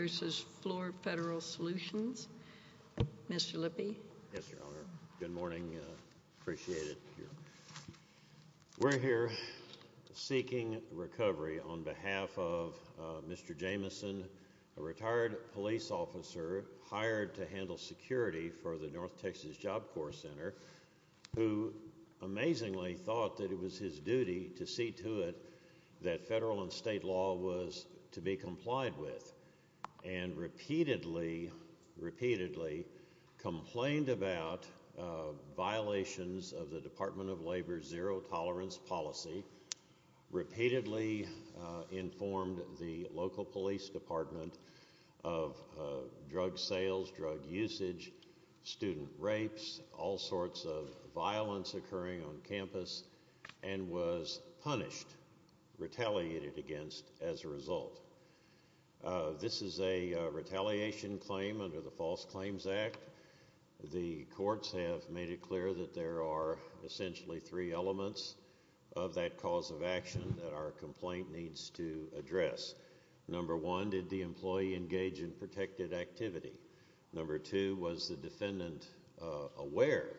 v. Fluor Federal Solutions. Mr. Lippe. Yes, Your Honor. Good morning. Appreciate it. We're here seeking recovery on behalf of Mr. Jamison, a retired police officer hired to handle security for the North Texas Job Corps Center who amazingly thought that it was his duty to see to it that federal and state law was to be complied with and repeatedly, repeatedly complained about violations of the Department of Labor's zero tolerance policy, repeatedly informed the local police department of drug sales, drug usage, student rapes, all sorts of violence occurring on campus and was punished, retaliated against as a result. This is a retaliation claim under the False Claims Act. The courts have made it clear that there are essentially three elements of that cause of action that our complaint needs to address. Number one, why did the employee engage in protected activity? Number two, was the defendant aware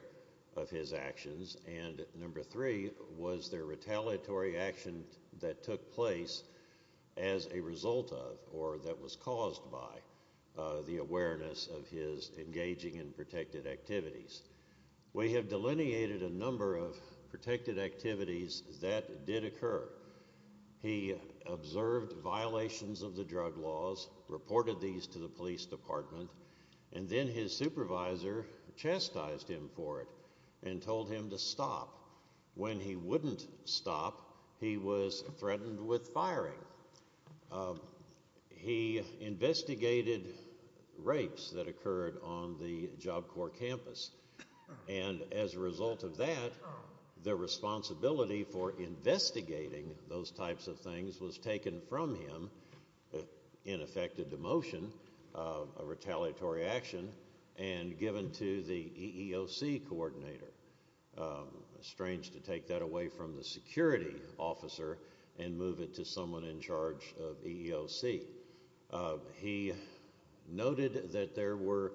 of his actions? And number three, was there retaliatory action that took place as a result of or that was caused by the awareness of his engaging in protected activities? We have delineated a number of protected activities that did occur. He observed violations of the drug laws, reported these to the police department, and then his supervisor chastised him for it and told him to stop. When he wouldn't stop, he was threatened with firing. He investigated rapes that occurred on the Job Corps campus and as a result of that, the responsibility for investigating those types of things was taken from him, in effect a demotion, a retaliatory action, and given to the EEOC coordinator. Strange to take that away from the security officer and move it to someone in charge of EEOC. He noted that there were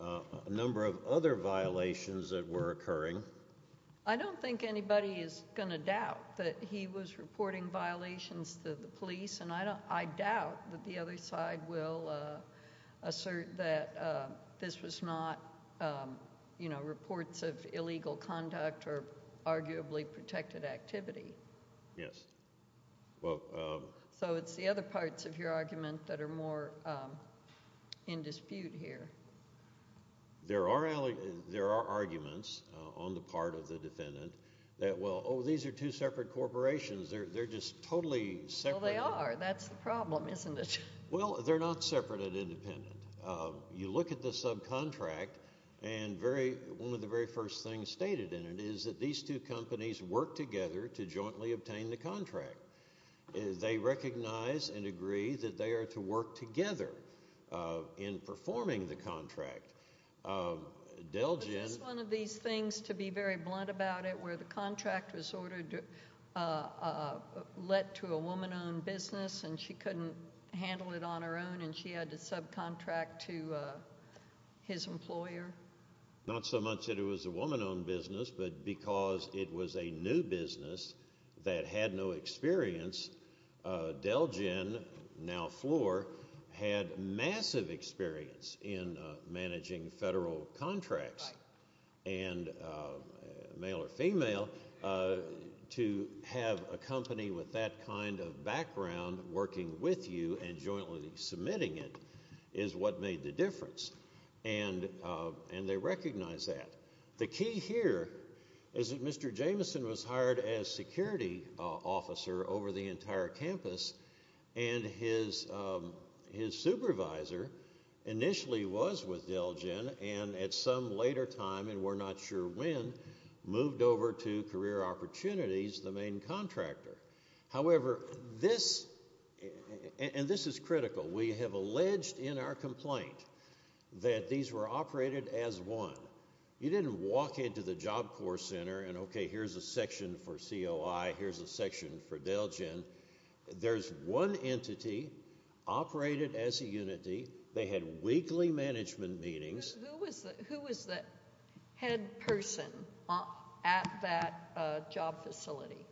a number of other violations that were occurring. I don't think anybody is going to doubt that he was reporting violations to the police and I doubt that the other side will assert that this was not, you know, reports of illegal conduct or arguably protected activity. Yes. So it's the other parts of your argument that are more in dispute here. There are arguments on the part of the defendant that, well, oh, these are two separate corporations. They're just totally separate. Well, they are. That's the problem, isn't it? Well, they're not separate and independent. You look at the subcontract and one of the very first things stated in the agreement is that these two companies work together to jointly obtain the contract. They recognize and agree that they are to work together in performing the contract. Delgin Was this one of these things, to be very blunt about it, where the contract was ordered, let to a woman-owned business and she couldn't handle it on her own and she had to subcontract to his employer? Not so much that it was a woman-owned business, but because it was a new business that had no experience, Delgin, now Floor, had massive experience in managing federal contracts, and male or female, to have a company with that kind of background working with you and they recognized that. The key here is that Mr. Jameson was hired as security officer over the entire campus and his supervisor initially was with Delgin and at some later time, and we're not sure when, moved over to Career Opportunities, the main contractor. However, this, and this is critical, we have alleged in our complaint that these were operated as one. You didn't walk into the Job Corps Center and, okay, here's a section for COI, here's a section for Delgin. There's one entity operated as a unity. They had weekly management meetings. Who was the head person at that job facility?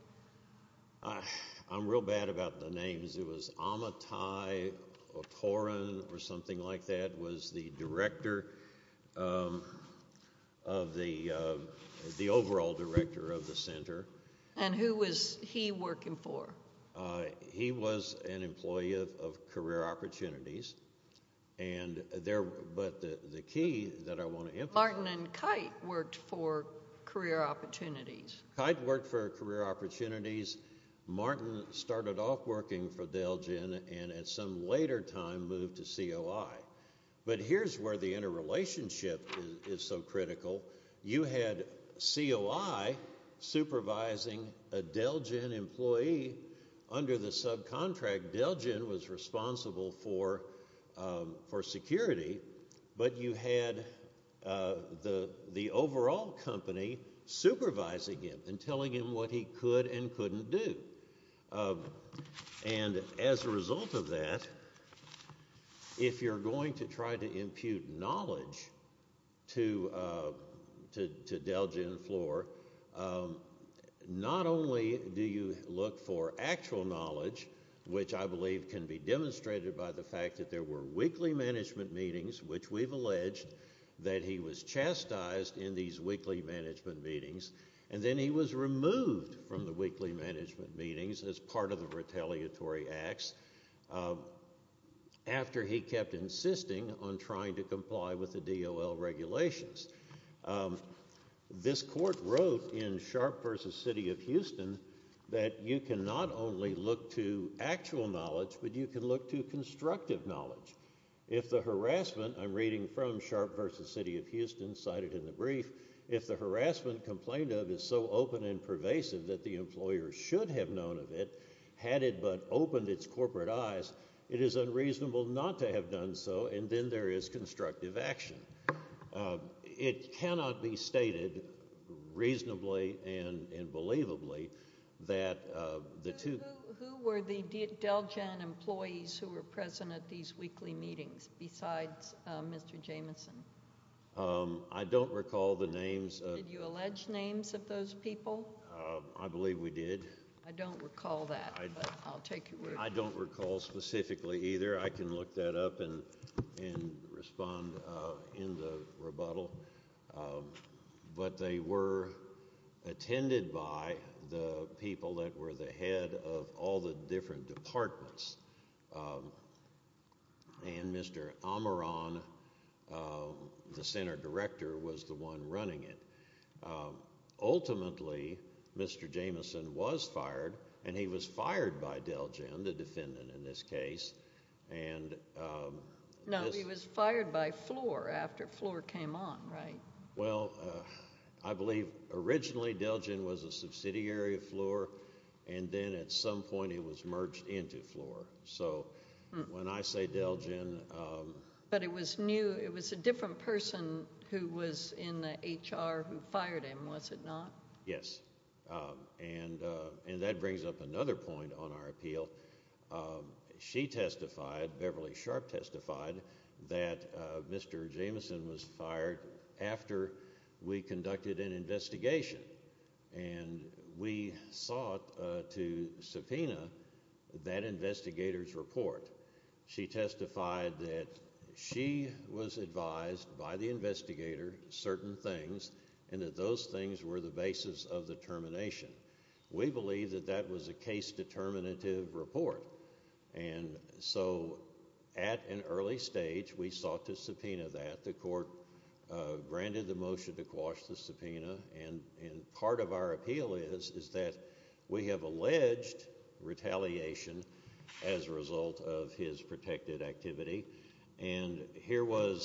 I'm real bad about the names. It was Amitai Okorin or something like that was the director of the, the overall director of the center. And who was he working for? He was an employee of Career Opportunities, and there, but the key that I want to emphasize- Martin and Kite worked for Career Opportunities. Kite worked for Career Opportunities. Martin started off working for Delgin and at some later time moved to COI. But here's where the interrelationship is so critical. You had COI supervising a Delgin employee under the subcontract. Delgin was responsible for, for security, but you had the, the overall company supervising him and telling him what he could and couldn't do. And as a result of that, if you're going to try to impute knowledge to, to, to Delgin and Floor, not only do you look for actual knowledge, which I believe can be demonstrated by the fact that there were weekly management meetings, which we've alleged that he was chastised in these weekly management meetings, and then he was removed from the weekly management meetings as part of the retaliatory acts after he kept insisting on trying to comply with the DOL regulations. This court wrote in Sharp v. City of Houston that you can not only look to actual knowledge, but you can look to constructive knowledge. If the harassment, I'm reading from Sharp v. City of Houston, cited in the brief, if the harassment complained of is so open and unknown of it, had it but opened its corporate eyes, it is unreasonable not to have done so, and then there is constructive action. It cannot be stated reasonably and, and believably that the two- Who, who, who were the Delgin employees who were present at these weekly meetings besides Mr. Jamison? I don't recall the names of- Did you allege names of those people? I believe we did. I don't recall that, but I'll take your word for it. I don't recall specifically either. I can look that up and, and respond in the rebuttal, but they were attended by the people that were the head of all the different departments, and Mr. Amaran, the center director, was the one running it. Ultimately, Mr. Jamison was fired, and he was fired by Delgin, the defendant in this case, and- No, he was fired by Floor after Floor came on, right? Well, I believe originally Delgin was a subsidiary of Floor, and then at some point he was merged into Floor. So when I say Delgin- But it was new, it was a different person who was in the HR who fired him, was it not? Yes, and that brings up another point on our appeal. She testified, Beverly Sharp testified, that Mr. Jamison was fired after we conducted an investigation, and we sought to subpoena that investigator's report. She testified that she was advised by the investigator certain things, and that those things were the basis of the termination. We believe that that was a case determinative report, and so at an early stage, we sought to subpoena that. The court granted the motion to quash the subpoena, and part of our appeal is that we have alleged retaliation as a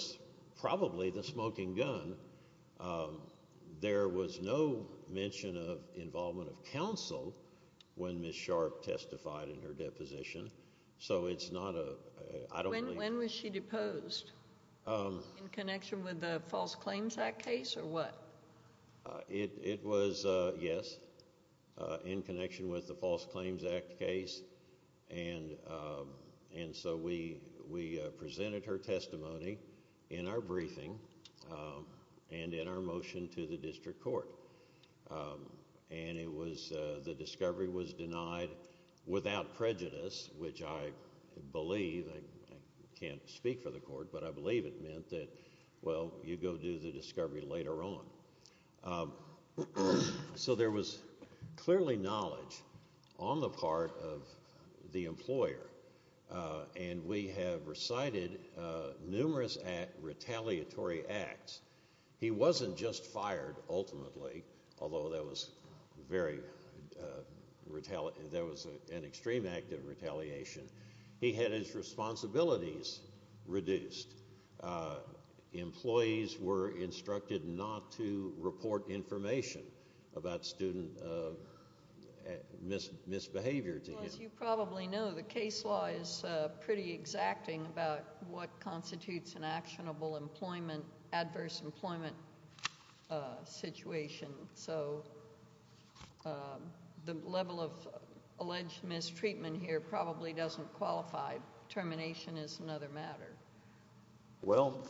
probably the smoking gun. There was no mention of involvement of counsel when Ms. Sharp testified in her deposition, so it's not a- When was she deposed? In connection with the False Claims Act case, or what? It was, yes, in connection with the False Claims Act case, and so we presented her testimony, in our briefing, and in our motion to the district court, and it was the discovery was denied without prejudice, which I believe, I can't speak for the court, but I believe it meant that, well, you go do the discovery later on. So there was clearly knowledge on the part of the employer, and we have recited numerous retaliatory acts. He wasn't just fired, ultimately, although that was very- there was an extreme act of retaliation. He had his responsibilities reduced. Employees were instructed not to report information about student misbehavior to him. Well, as you probably know, the case law is pretty exacting about what constitutes an actionable employment, adverse employment situation, so the level of alleged mistreatment here probably doesn't qualify. Termination is another matter. Well,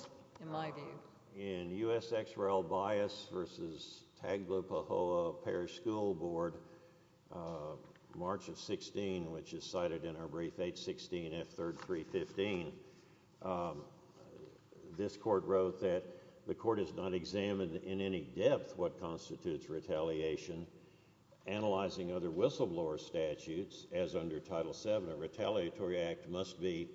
in my view, in U.S. XRL Bias v. Taglo Pahoa Parish School Board, March of 16, which is cited in our brief H-16, F-3-3-15, this court wrote that the court has not examined in any depth what constitutes retaliation. Analyzing other whistleblower statutes, as under Title VII, a retaliatory act must be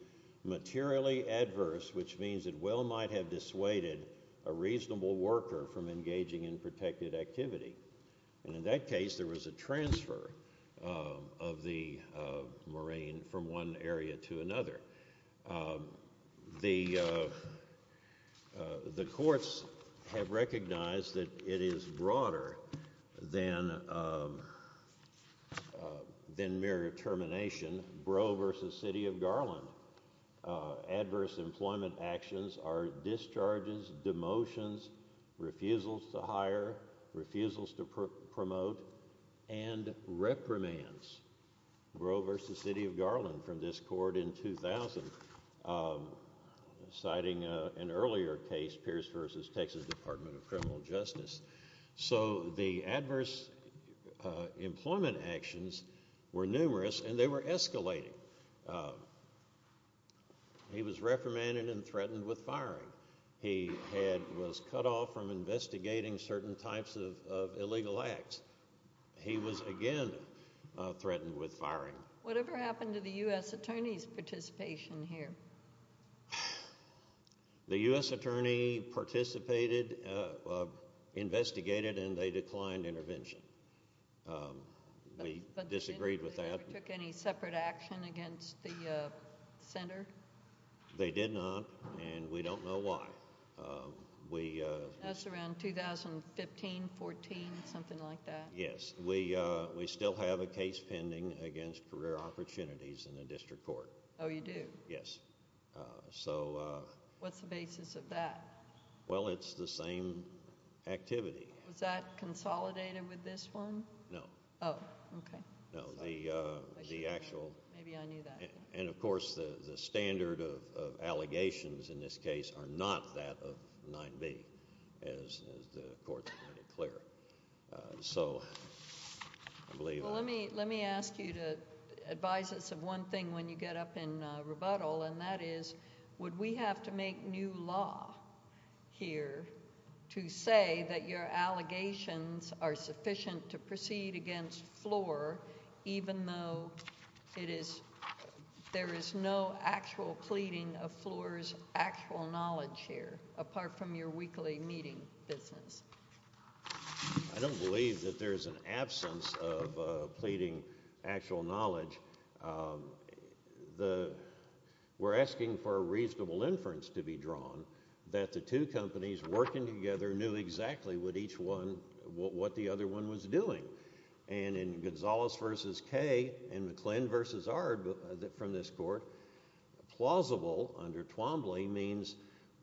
materially adverse, which means it well might have dissuaded a reasonable worker from engaging in protected activity. And in that case, there was a transfer of the marine from one area to another. The courts have recognized that it is broader than mere termination. Breaux v. City of Garland. Adverse employment actions are discharges, demotions, refusals to hire, refusals to promote, and reprimands. Breaux v. City of Garland from this court in 2000, citing an earlier case, Pierce v. Texas Department of Criminal Justice. So the adverse employment actions were numerous, and they were escalating. He was reprimanded and threatened with firing. He was cut off from investigating certain types of illegal acts. He was, again, threatened with firing. Whatever happened to the U.S. attorney's participation here? The U.S. attorney participated, investigated, and they declined intervention. We disagreed with that. They never took any separate action against the senator? They did not, and we don't know why. That's around 2015, 14, something like that. Yes. We still have a case pending against career opportunities in the district court. Oh, you do? Yes. So what's the basis of that? Well, it's the same activity. Was that consolidated with this one? No. Oh, okay. No, the actual... Maybe I knew that. And, of course, the standard of allegations in this case are not that of 9b, as the court made it clear. So I believe... And that is, would we have to make new law here to say that your allegations are sufficient to proceed against Floor, even though there is no actual pleading of Floor's actual knowledge here, apart from your weekly meeting business? I don't believe that there's an absence of pleading actual knowledge. We're asking for a reasonable inference to be drawn that the two companies working together knew exactly what each one... what the other one was doing. And in Gonzales v. Kaye and McClendon v. Ard from this court, plausible under Twombly means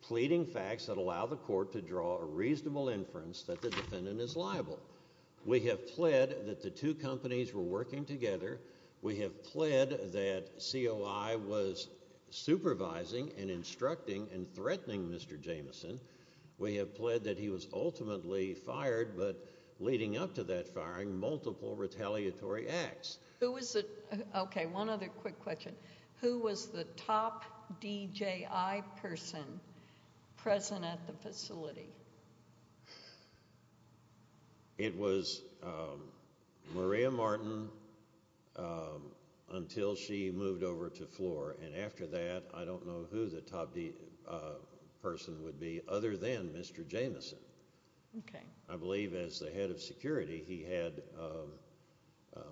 pleading facts that allow the court to draw a reasonable inference that the defendant is liable. We have pled that the two companies were working together. We have pled that COI was supervising and instructing and threatening Mr. Jamison. We have pled that he was ultimately fired, but leading up to that firing, multiple retaliatory acts. Who was the... Okay, one other quick question. Who was the top DJI person present at the facility? It was Maria Martin until she moved over to Floor, and after that, I don't know who the top DJI person would be, other than Mr. Jamison. Okay. I believe as the head of security, he had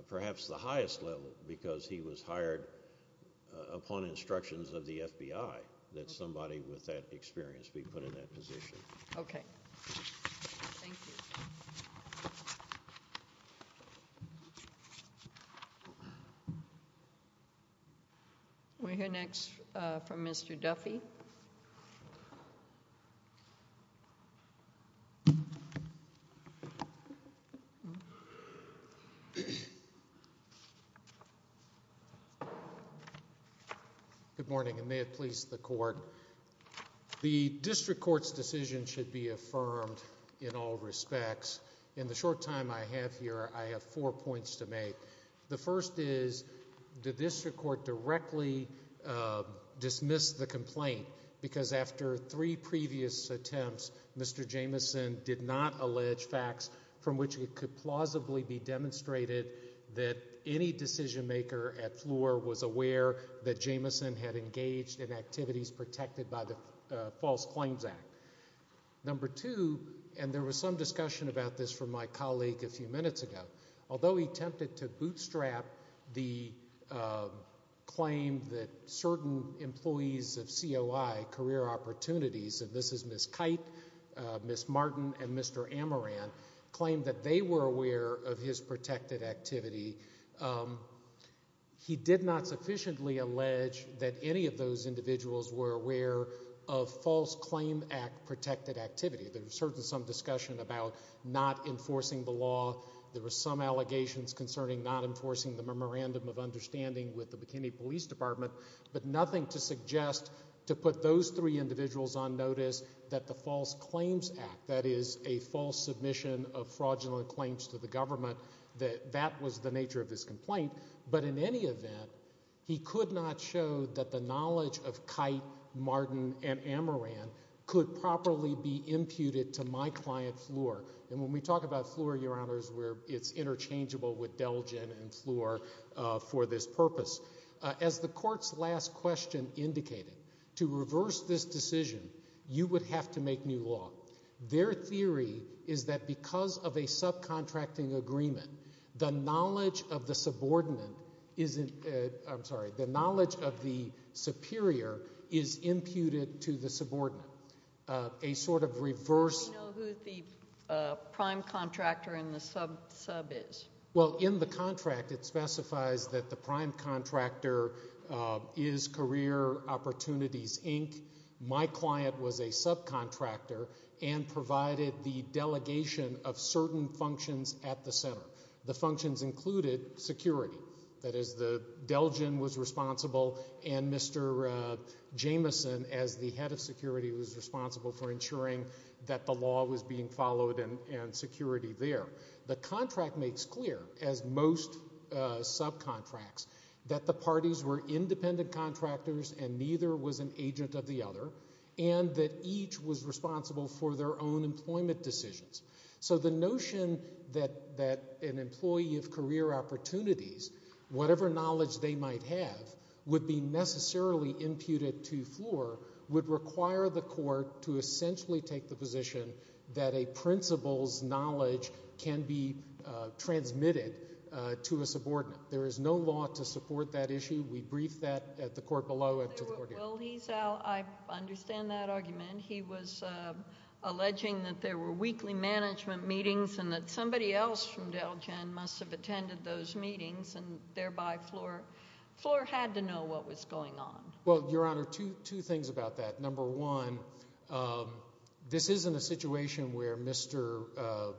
perhaps the highest level, because he was hired upon instructions of the FBI that somebody with that experience be put in that position. Okay. Thank you. We'll hear next from Mr. Duffy. Good morning, and may it please the court. The district court's decision should be affirmed in all respects. In the short time I have here, I have four points to make. The first is, did this court directly dismiss the complaint? Because after three previous attempts, Mr. Jamison did not allege facts from which it could plausibly be demonstrated that any decision maker at Floor was aware that Jamison had engaged in activities protected by the False Claims Act. Number two, and there was some discussion about this from my colleague a few minutes ago, although he attempted to bootstrap the claim that certain employees of COI, Career Opportunities, and this is Ms. Kite, Ms. Martin, and Mr. Amaran, claimed that they were aware of his protected activity. He did not sufficiently allege that any of those individuals were aware of False Claim Act protected activity. There was certainly some discussion about not enforcing the law. There were some allegations concerning not enforcing the memorandum of understanding with the McKinney Police Department, but nothing to suggest to put those three individuals on notice that the False Claims Act, that is a false submission of fraudulent claims to the government, that that was the nature of his complaint. But in any event, he could not show that the knowledge of Kite, Martin, and Amaran could properly be imputed to my client, Floor. And when we talk about Floor, Your Honors, where it's interchangeable with Delgin and Floor for this purpose, as the Court's last question indicated, to reverse this decision, you would have to make new law. Their theory is that because of a subcontracting agreement, the knowledge of the subordinate is, I'm sorry, the knowledge of the superior is imputed to the subordinate, a sort of reverse. Do we know who the prime contractor in the sub is? Well, in the contract, it specifies that the prime contractor is Career Opportunities, Inc. My client was a subcontractor and provided the delegation of certain functions at the center. The functions included security. That is, Delgin was responsible and Mr. Jamison, as the head of security, was responsible for ensuring that the law was being followed and security there. The contract makes clear, as most subcontracts, that the parties were independent contractors and neither was an agent of the other and that each was responsible for their own employment decisions. So the notion that an employee of Career Opportunities, whatever knowledge they might have, would be necessarily imputed to Floor would require the Court to essentially take the position that a principal's knowledge can be transmitted to a subordinate. There is no law to support that issue. We briefed that at the Court below and to the Court here. Well, I understand that argument. He was alleging that there were weekly management meetings and that somebody else from Delgin must have attended those meetings and thereby Floor had to know what was going on. Well, Your Honor, two things about that. Number one, this isn't a situation where Mr.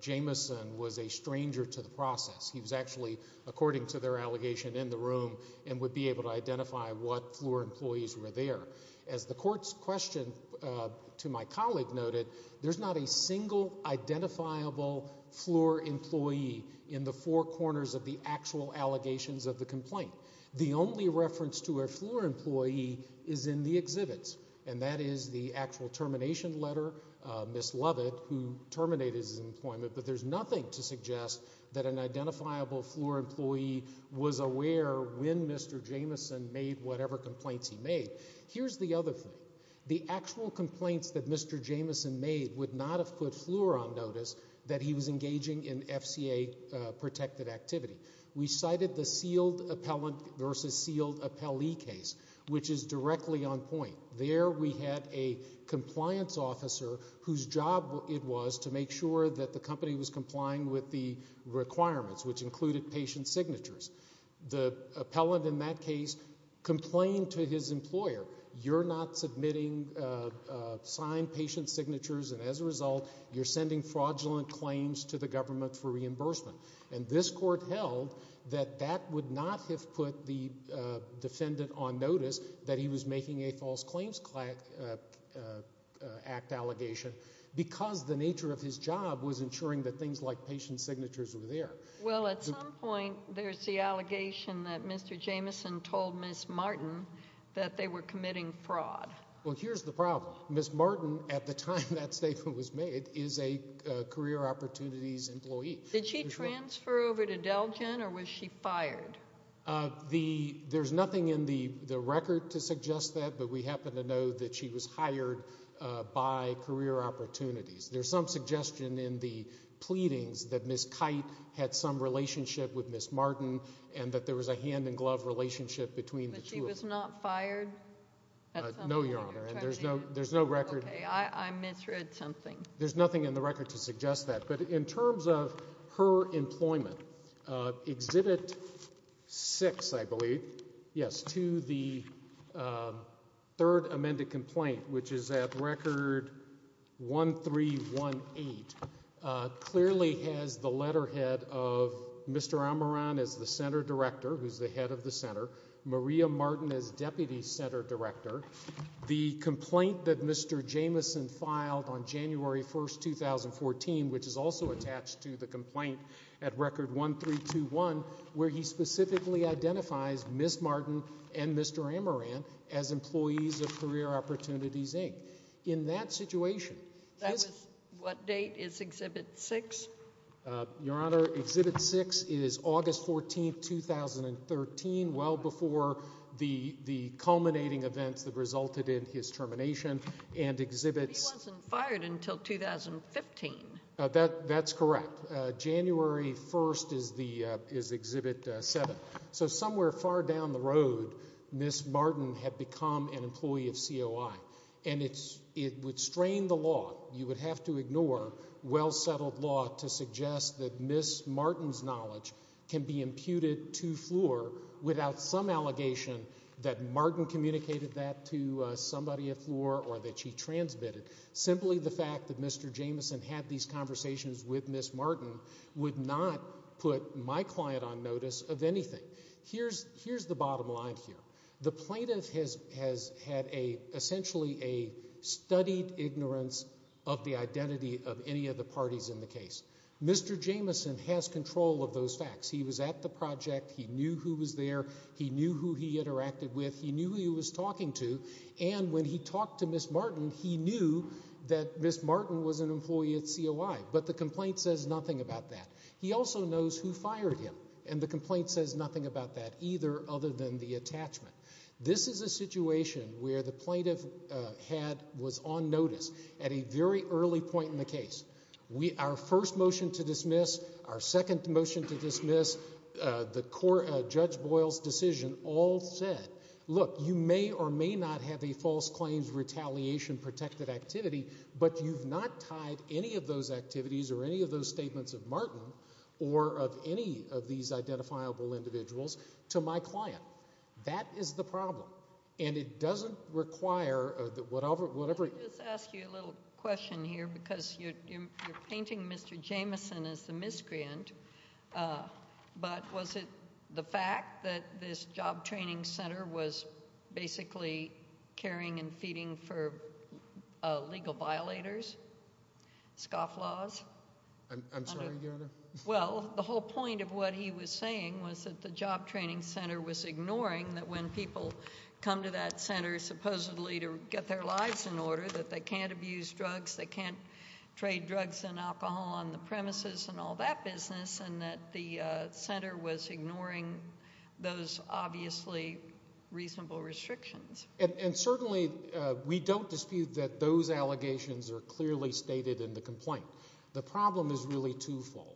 Jamison was a stranger to the process. He was actually, according to their allegation, in the room and would be able to identify what Floor employees were there. As the Court's question to my colleague noted, there's not a single identifiable Floor employee in the four corners of the actual allegations of the complaint. The only reference to a Floor employee is in the exhibits and that is the actual termination letter, Ms. Lovett, who terminated his employment, but there's nothing to suggest that an identifiable Floor employee was aware when Mr. Jamison made whatever complaints he made. Here's the other thing. The actual complaints that Mr. Jamison made would not have put Floor on notice that he was engaging in FCA-protected activity. We cited the sealed appellant versus sealed appellee case, which is directly on point. There we had a compliance officer whose job it was to make sure that the company was complying with the requirements, which included patient signatures. The appellant in that case complained to his employer, you're not submitting signed patient signatures and as a result, you're sending fraudulent claims to the government for reimbursement, and this Court held that that would not have put the defendant on notice that he was making a False Claims Act allegation because the nature of his job was ensuring that things like patient signatures were there. Well, at some point, there's the allegation that Mr. Jamison told Ms. Martin that they were committing fraud. Well, here's the problem. Ms. Martin, at the time that statement was made, is a Career Opportunities employee. Did she transfer over to Delgin or was she fired? The, there's nothing in the record to suggest that, but we happen to know that she was hired by Career Opportunities. There's some suggestion in the pleadings that Ms. Kite had some relationship with Ms. Martin and that there was a hand-in-glove relationship between the two of them. But she was not fired? No, Your Honor, and there's no, there's no record. Okay, I misread something. There's nothing in the record to suggest that, but in terms of her employment, exhibit six, I believe, yes, to the third amended complaint, which is at record 1318, clearly has the letterhead of Mr. Amaran as the center director, who's the head of the center, Maria Martin as deputy center director. The complaint that Mr. Jamison filed on January 1st, 2014, which is also attached to the complaint at record 1321, where he specifically identifies Ms. Martin and Mr. Amaran as employees of Career Opportunities, Inc. In that situation. That was, what date is exhibit six? Your Honor, exhibit six is August 14th, 2013, well before the, the culminating events that resulted in his termination and exhibits. But he wasn't fired until 2015. That's correct. January 1st is the, is exhibit seven. So somewhere far down the road, Ms. Martin had become an employee of COI, and it's, it would strain the law. You would have to ignore well-settled law to suggest that Ms. Martin's knowledge can be imputed to Fleur without some allegation that Martin communicated that to somebody at Fleur or that she transmitted. Simply the fact that Mr. Jamison had these conversations with Ms. Martin would not put my client on notice of anything. Here's, here's the bottom line here. The plaintiff has, has had a essentially a studied ignorance of the identity of any of the parties in the case. Mr. Jamison has control of those facts. He was at the project. He knew who was there. He knew who he interacted with. He knew who he was talking to. And when he talked to Ms. Martin, he knew that Ms. Martin was an employee at COI, but the complaint says nothing about that. He also knows who fired him, and the complaint says nothing about that either other than the attachment. This is a situation where the plaintiff had, was on notice at a very early point in the case. We, our first motion to dismiss, our second motion to dismiss, the court, Judge Boyle's decision all said, look, you may or may not have a false claims retaliation protected activity, but you've not tied any of those activities or any of those statements of Martin or of any of these identifiable individuals to my client. That is the problem. And it doesn't require that whatever, whatever. I'll just ask you a little question here because you're, you're painting Mr. Jamison as the most inscrient, but was it the fact that this job training center was basically caring and feeding for legal violators, scoff laws? I'm sorry, Your Honor? Well, the whole point of what he was saying was that the job training center was ignoring that when people come to that center supposedly to get their lives in order, that they can't take drugs and alcohol on the premises and all that business and that the center was ignoring those obviously reasonable restrictions. And certainly we don't dispute that those allegations are clearly stated in the complaint. The problem is really twofold.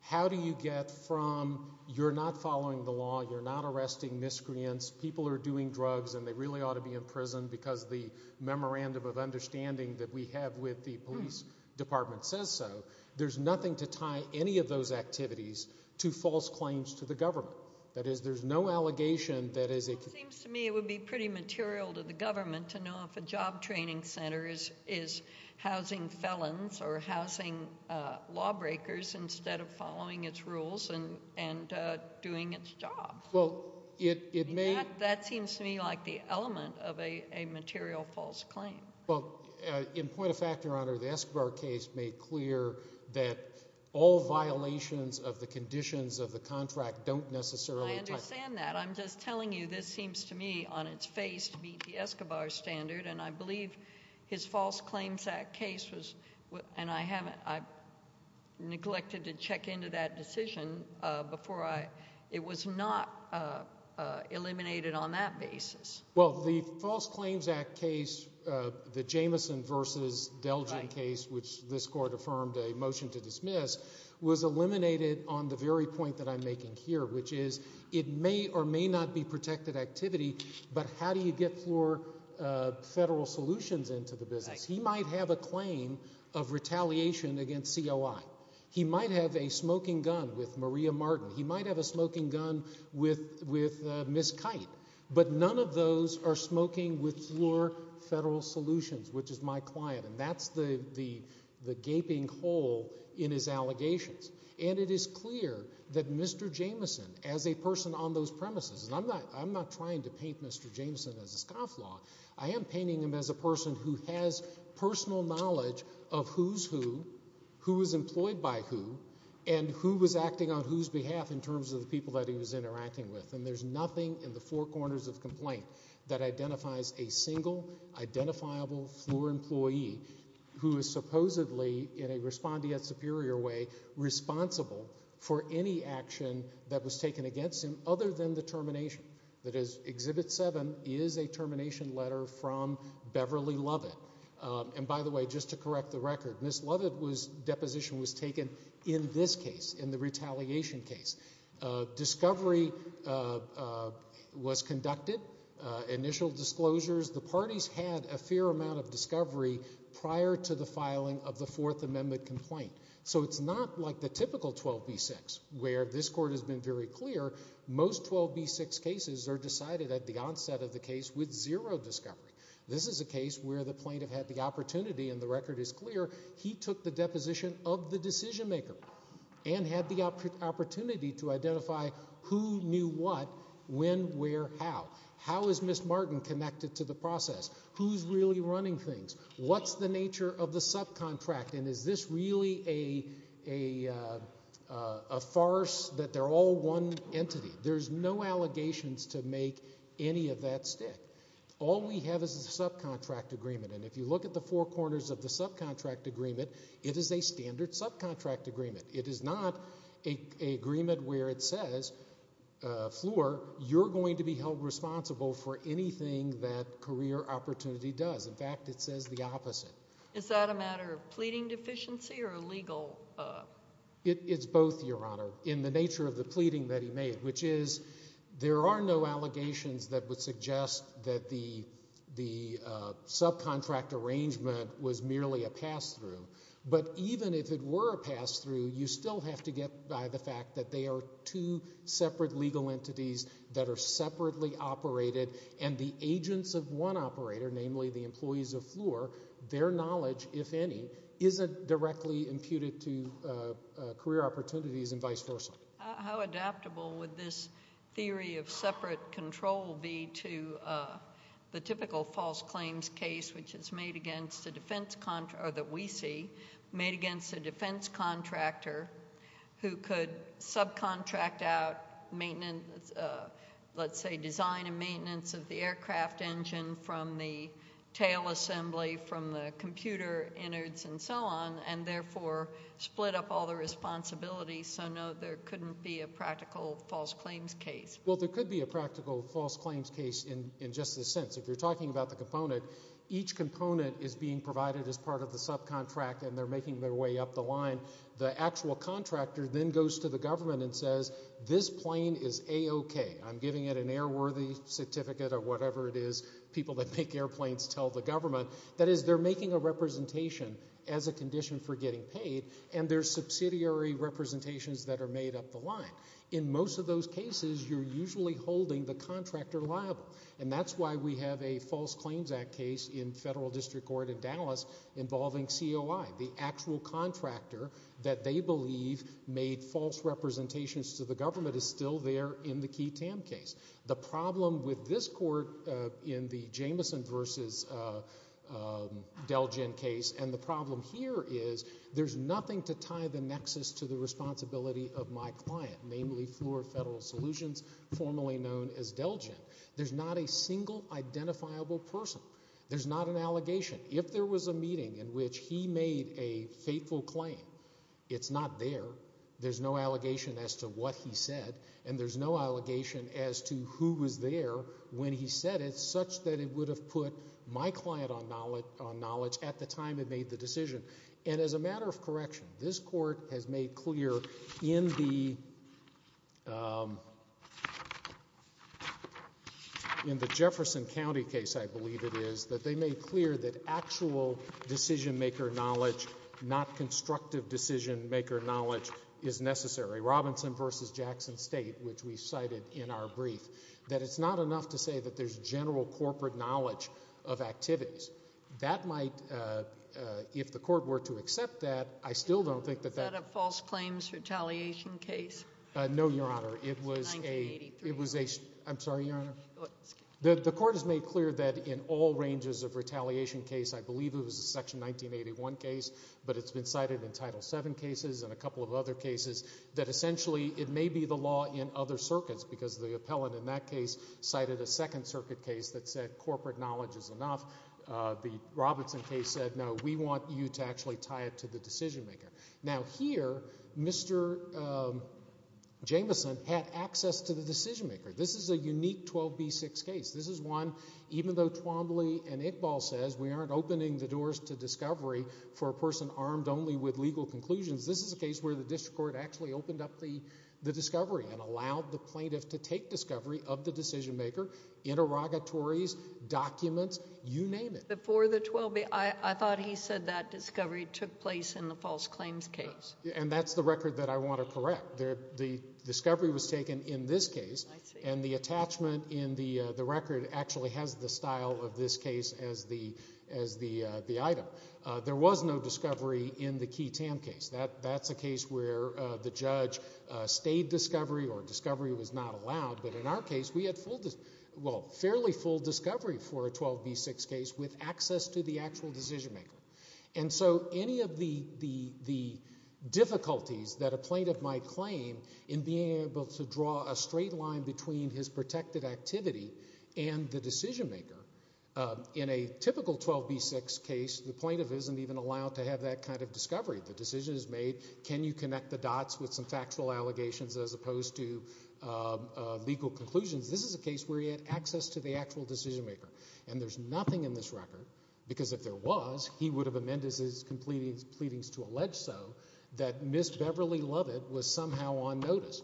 How do you get from you're not following the law, you're not arresting miscreants, people are doing drugs and they really ought to be in prison because the memorandum of understanding that we have with the police department says so. There's nothing to tie any of those activities to false claims to the government. That is, there's no allegation that is. It seems to me it would be pretty material to the government to know if a job training center is, is housing felons or housing lawbreakers instead of following its rules and, and doing its job. Well, it, it may. That seems to me like the element of a, a material false claim. Well, in point of fact, Your Honor, the Escobar case made clear that all violations of the conditions of the contract don't necessarily apply. I understand that. I'm just telling you this seems to me on its face to meet the Escobar standard and I believe his False Claims Act case was, and I haven't, I've neglected to check into that decision before I, it was not eliminated on that basis. Well, the False Claims Act case, the Jamison versus Delgin case, which this court affirmed a motion to dismiss, was eliminated on the very point that I'm making here, which is it may or may not be protected activity, but how do you get more federal solutions into the business? He might have a claim of retaliation against COI. He might have a smoking gun with Maria Martin. He might have a smoking gun with, with Ms. Kite, but none of those are smoking with floor federal solutions, which is my client, and that's the, the, the gaping hole in his allegations. And it is clear that Mr. Jamison, as a person on those premises, and I'm not, I'm not trying to paint Mr. Jamison as a scofflaw, I am painting him as a person who has personal knowledge of who's who, who was employed by who, and who was acting on whose behalf in terms of the people that he was interacting with. And there's nothing in the four corners of the complaint that identifies a single identifiable floor employee who is supposedly, in a respondeat superior way, responsible for any action that was taken against him other than the termination. That is, Exhibit 7 is a termination letter from Beverly Lovett. And by the way, just to correct the record, Ms. Lovett was, deposition was taken in this case, in the retaliation case. Discovery was conducted, initial disclosures, the parties had a fair amount of discovery prior to the filing of the Fourth Amendment complaint. So it's not like the typical 12B6, where this court has been very clear, most 12B6 cases are decided at the onset of the case with zero discovery. This is a case where the plaintiff had the opportunity, and the record is clear, he took the deposition of the decision maker, and had the opportunity to identify who knew what, when, where, how. How is Ms. Martin connected to the process? Who's really running things? What's the nature of the subcontract, and is this really a farce that they're all one entity? There's no allegations to make any of that stick. All we have is a subcontract agreement, and if you look at the four corners of the subcontract agreement, it is a standard subcontract agreement. It is not a agreement where it says, Fleur, you're going to be held responsible for anything that Career Opportunity does. In fact, it says the opposite. Is that a matter of pleading deficiency, or legal? It's both, Your Honor, in the nature of the pleading that he made, which is, there are no allegations that would suggest that the subcontract arrangement was merely a pass-through. But even if it were a pass-through, you still have to get by the fact that they are two separate legal entities that are separately operated, and the agents of one operator, namely the employees of Fleur, their knowledge, if any, isn't directly imputed to Career Opportunities, and vice versa. How adaptable would this theory of separate control be to the typical false claims case, which is made against a defense... or that we see, made against a defense contractor who could subcontract out maintenance... let's say design and maintenance of the aircraft engine from the tail assembly, from the computer innards, and so on, and therefore split up all the responsibilities, so, no, there couldn't be a practical false claims case? Well, there could be a practical false claims case in just this sense. If you're talking about the component, each component is being provided as part of the subcontract, and they're making their way up the line. The actual contractor then goes to the government and says, this plane is A-OK. I'm giving it an airworthy certificate, or whatever it is people that make airplanes tell the government. That is, they're making a representation as a condition for getting paid, and there's subsidiary representations that are made up the line. In most of those cases, you're usually holding the contractor liable, and that's why we have a False Claims Act case in federal district court in Dallas involving COI. The actual contractor that they believe made false representations to the government is still there in the Key Tam case. The problem with this court in the Jamison versus Delgin case, and the problem here is, there's nothing to tie the nexus to the responsibility of my client, namely, Fleur Federal Solutions, formerly known as Delgin. There's not a single identifiable person. There's not an allegation. If there was a meeting in which he made a fateful claim, it's not there. There's no allegation as to what he said, and there's no allegation as to who was there when he said it, such that it would have put my client on knowledge at the time it made the decision. As a matter of correction, this court has made clear in the Jefferson County case, I believe it is, that they made clear that actual decision-maker knowledge, not constructive decision-maker knowledge, is necessary. Robinson versus Jackson State, which we cited in our brief, that it's not enough to say that there's general corporate knowledge of activities. That might, if the court were to accept that, I still don't think that that's- Is that a false claims retaliation case? No, Your Honor. It was a- It's a 1983- I'm sorry, Your Honor? The court has made clear that in all ranges of retaliation case, I believe it was a Section 1981 case, but it's been cited in Title VII cases and a couple of other cases, that essentially it may be the law in other circuits, because the appellant in that case cited a Second Circuit case that said corporate knowledge is enough. The Robinson case said, no, we want you to actually tie it to the decision-maker. Now here, Mr. Jameson had access to the decision-maker. This is a unique 12B6 case. This is one, even though Twombly and Iqbal says we aren't opening the doors to discovery for a person armed only with legal conclusions, this is a case where the district court actually opened up the discovery and allowed the plaintiff to take discovery of the decision-maker, interrogatories, documents, you name it. Before the 12B, I thought he said that discovery took place in the false claims case. And that's the record that I want to correct. The discovery was taken in this case, and the attachment in the record actually has the style of this case as the item. There was no discovery in the Key Tam case. That's a case where the judge stayed discovery or discovery was not allowed, but in our case, we had fairly full discovery for a 12B6 case with access to the actual decision-maker. And so any of the difficulties that a plaintiff might claim in being able to draw a straight line between his protected activity and the decision-maker, in a typical 12B6 case, the plaintiff isn't even allowed to have that kind of discovery. The decision is made, can you connect the dots with some factual allegations as opposed to legal conclusions? This is a case where he had access to the actual decision-maker, and there's nothing in this record, because if there was, he would have amended his pleadings to allege so that Ms. Beverly Lovett was somehow on notice,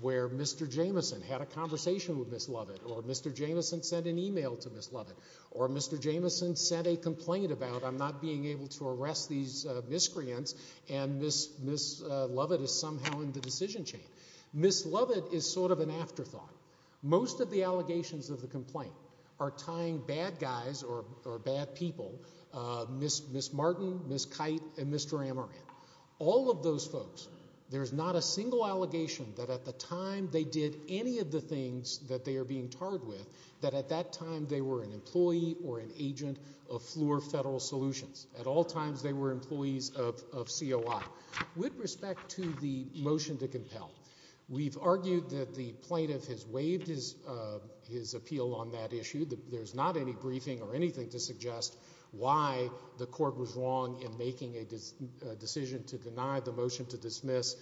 where Mr. Jameson had a conversation with Ms. Lovett, or Mr. Jameson sent an email to Ms. Lovett, or Mr. Jameson sent a complaint about I'm not being able to arrest these miscreants, and Ms. Lovett is somehow in the decision chain. Ms. Lovett is sort of an afterthought. Most of the allegations of the complaint are tying bad guys or bad people, Ms. Martin, Ms. Kite, and Mr. Amaran. All of those folks, there's not a single allegation that at the time they did any of the things that they are being tarred with, that at that time they were an employee or an agent of Fluor Federal Solutions. At all times they were employees of COI. With respect to the motion to compel, we've argued that the plaintiff has waived his appeal on that issue, that there's not any briefing or anything to suggest why the court was wrong in making a decision to deny the motion to dismiss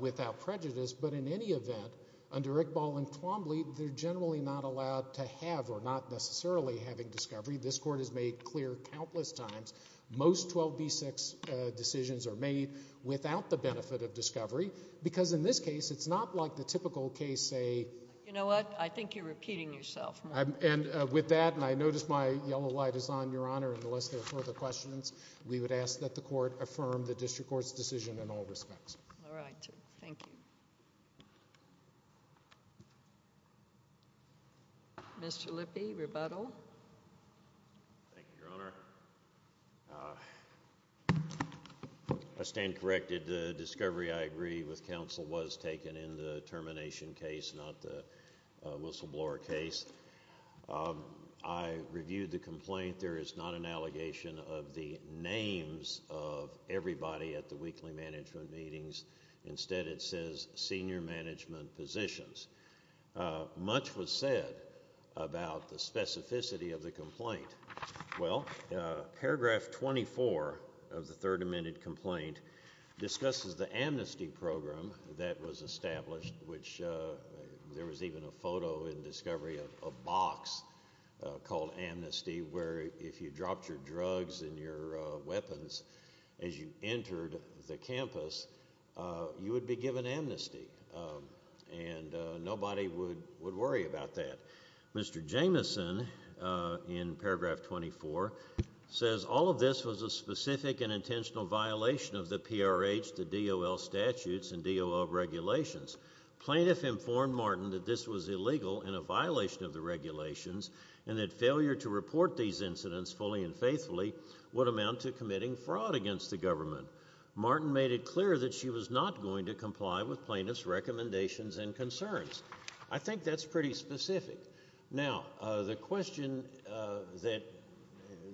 without prejudice, but in any event, under Iqbal and Twombly, they're generally not allowed to have, or not necessarily having discovery. This court has made clear countless times. Most 12B6 decisions are made without the benefit of discovery, because in this case, it's not like the typical case, say... You know what? I think you're repeating yourself. With that, and I notice my yellow light is on, Your Honor, unless there are further questions, we would ask that the court affirm the district court's decision in all respects. All right. Thank you. Mr. Lippe, rebuttal. Thank you, Your Honor. I stand corrected. The discovery, I agree with counsel, was taken in the termination case, not the whistleblower case. I reviewed the complaint. There is not an allegation of the names of everybody at the weekly management meetings. Instead, it says senior management positions. Much was said about the specificity of the complaint. Well, paragraph 24 of the Third Amendment complaint discusses the amnesty program that was established, which there was even a photo in discovery of a box called amnesty, where if you dropped your drugs and your weapons as you entered the campus, you would be given amnesty, and nobody would worry about that. Mr. Jameson, in paragraph 24, says all of this was a specific and intentional violation of the PRH, the DOL statutes, and DOL regulations. Plaintiff informed Martin that this was illegal and a violation of the regulations, and that failure to report these incidents fully and faithfully would amount to committing fraud against the government. Martin made it clear that she was not going to comply with plaintiff's recommendations and concerns. I think that's pretty specific. Now, the question that,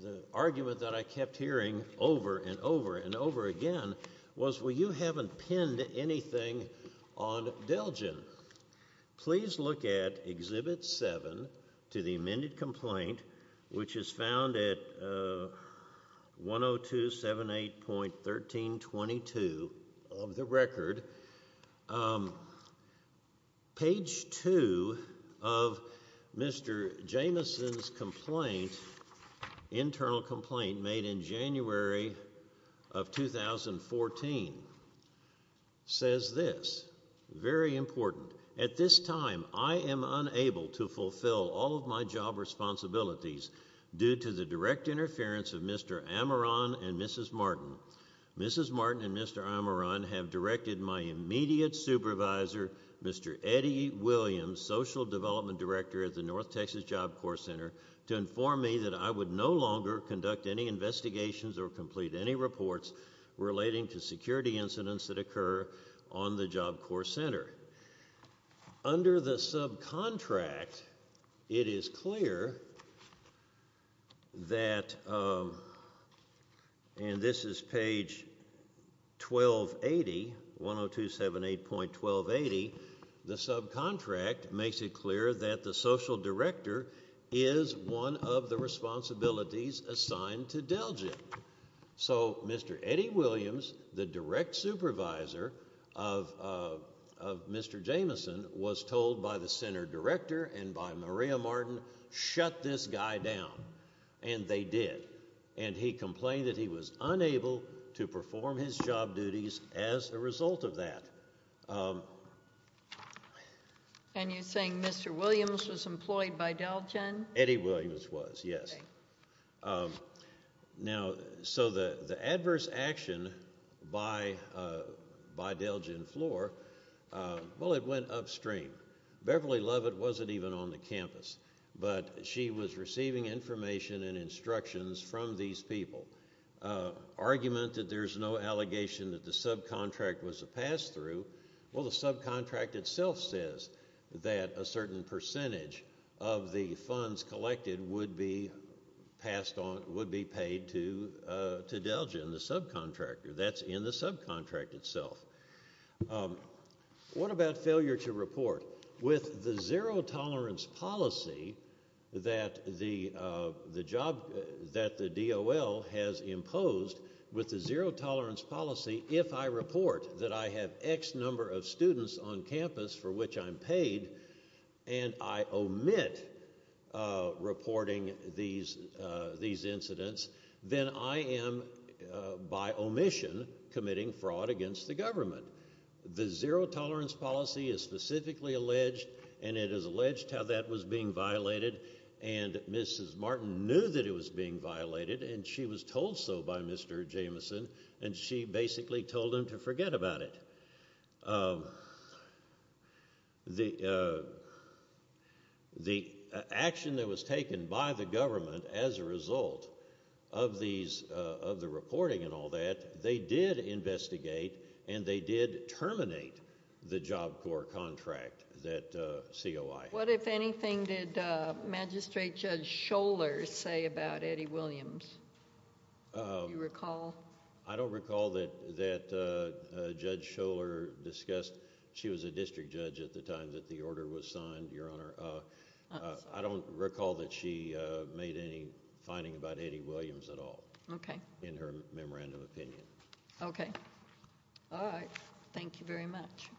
the argument that I kept hearing over and over and over again was, well, you haven't pinned anything on Delgin. Please look at Exhibit 7 to the amended complaint, which is found at 10278.1322 of the record. Page 2 of Mr. Jameson's complaint, internal complaint made in January of 2014, says this. Very important. At this time, I am unable to fulfill all of my job responsibilities due to the direct interference of Mr. Amaran and Mrs. Martin. Mrs. Martin and Mr. Amaran have directed my immediate supervisor, Mr. Eddie Williams, Social Development Director at the North Texas Job Corps Center, to inform me that I would no longer conduct any investigations or complete any reports relating to security incidents that occur on the Job Corps Center. Under the subcontract, it is clear that, and this is page 1280, 10278.1280, the subcontract makes it clear that the Social Director is one of the responsibilities assigned to Delgin. So Mr. Eddie Williams, the direct supervisor of Mr. Jameson, was told by the Center Director and by Maria Martin, shut this guy down. And they did. And he complained that he was unable to perform his job duties as a result of that. And you're saying Mr. Williams was employed by Delgin? Eddie Williams was, yes. Now, so the adverse action by Delgin Floor, well it went upstream. Beverly Lovett wasn't even on the campus, but she was receiving information and instructions from these people. Argument that there's no allegation that the subcontract was a pass-through, well the subcontract itself says that a certain percentage of the funds collected would be passed on, would be paid to Delgin, the subcontractor. That's in the subcontract itself. What about failure to report? With the zero-tolerance policy that the job, that the DOL has imposed, with the zero-tolerance policy, if I report that I have X number of students on campus for which I'm paid, and I omit reporting these incidents, then I am, by omission, committing fraud against the government. The zero-tolerance policy is specifically alleged, and it is alleged how that was being violated, and Mrs. Martin knew that it was being violated, and she was told so by Mr. Jameson, and she basically told him to forget about it. The action that was taken by the government as a result of these, of the reporting and all that, they did investigate, and they did terminate the Job Corps contract that COI had. If anything, did Magistrate Judge Scholar say about Eddie Williams, do you recall? I don't recall that Judge Scholar discussed... she was a district judge at the time that the order was signed, Your Honor. I don't recall that she made any finding about Eddie Williams at all in her memorandum opinion. Okay. All right. Thank you very much. Thank you, Your Honor.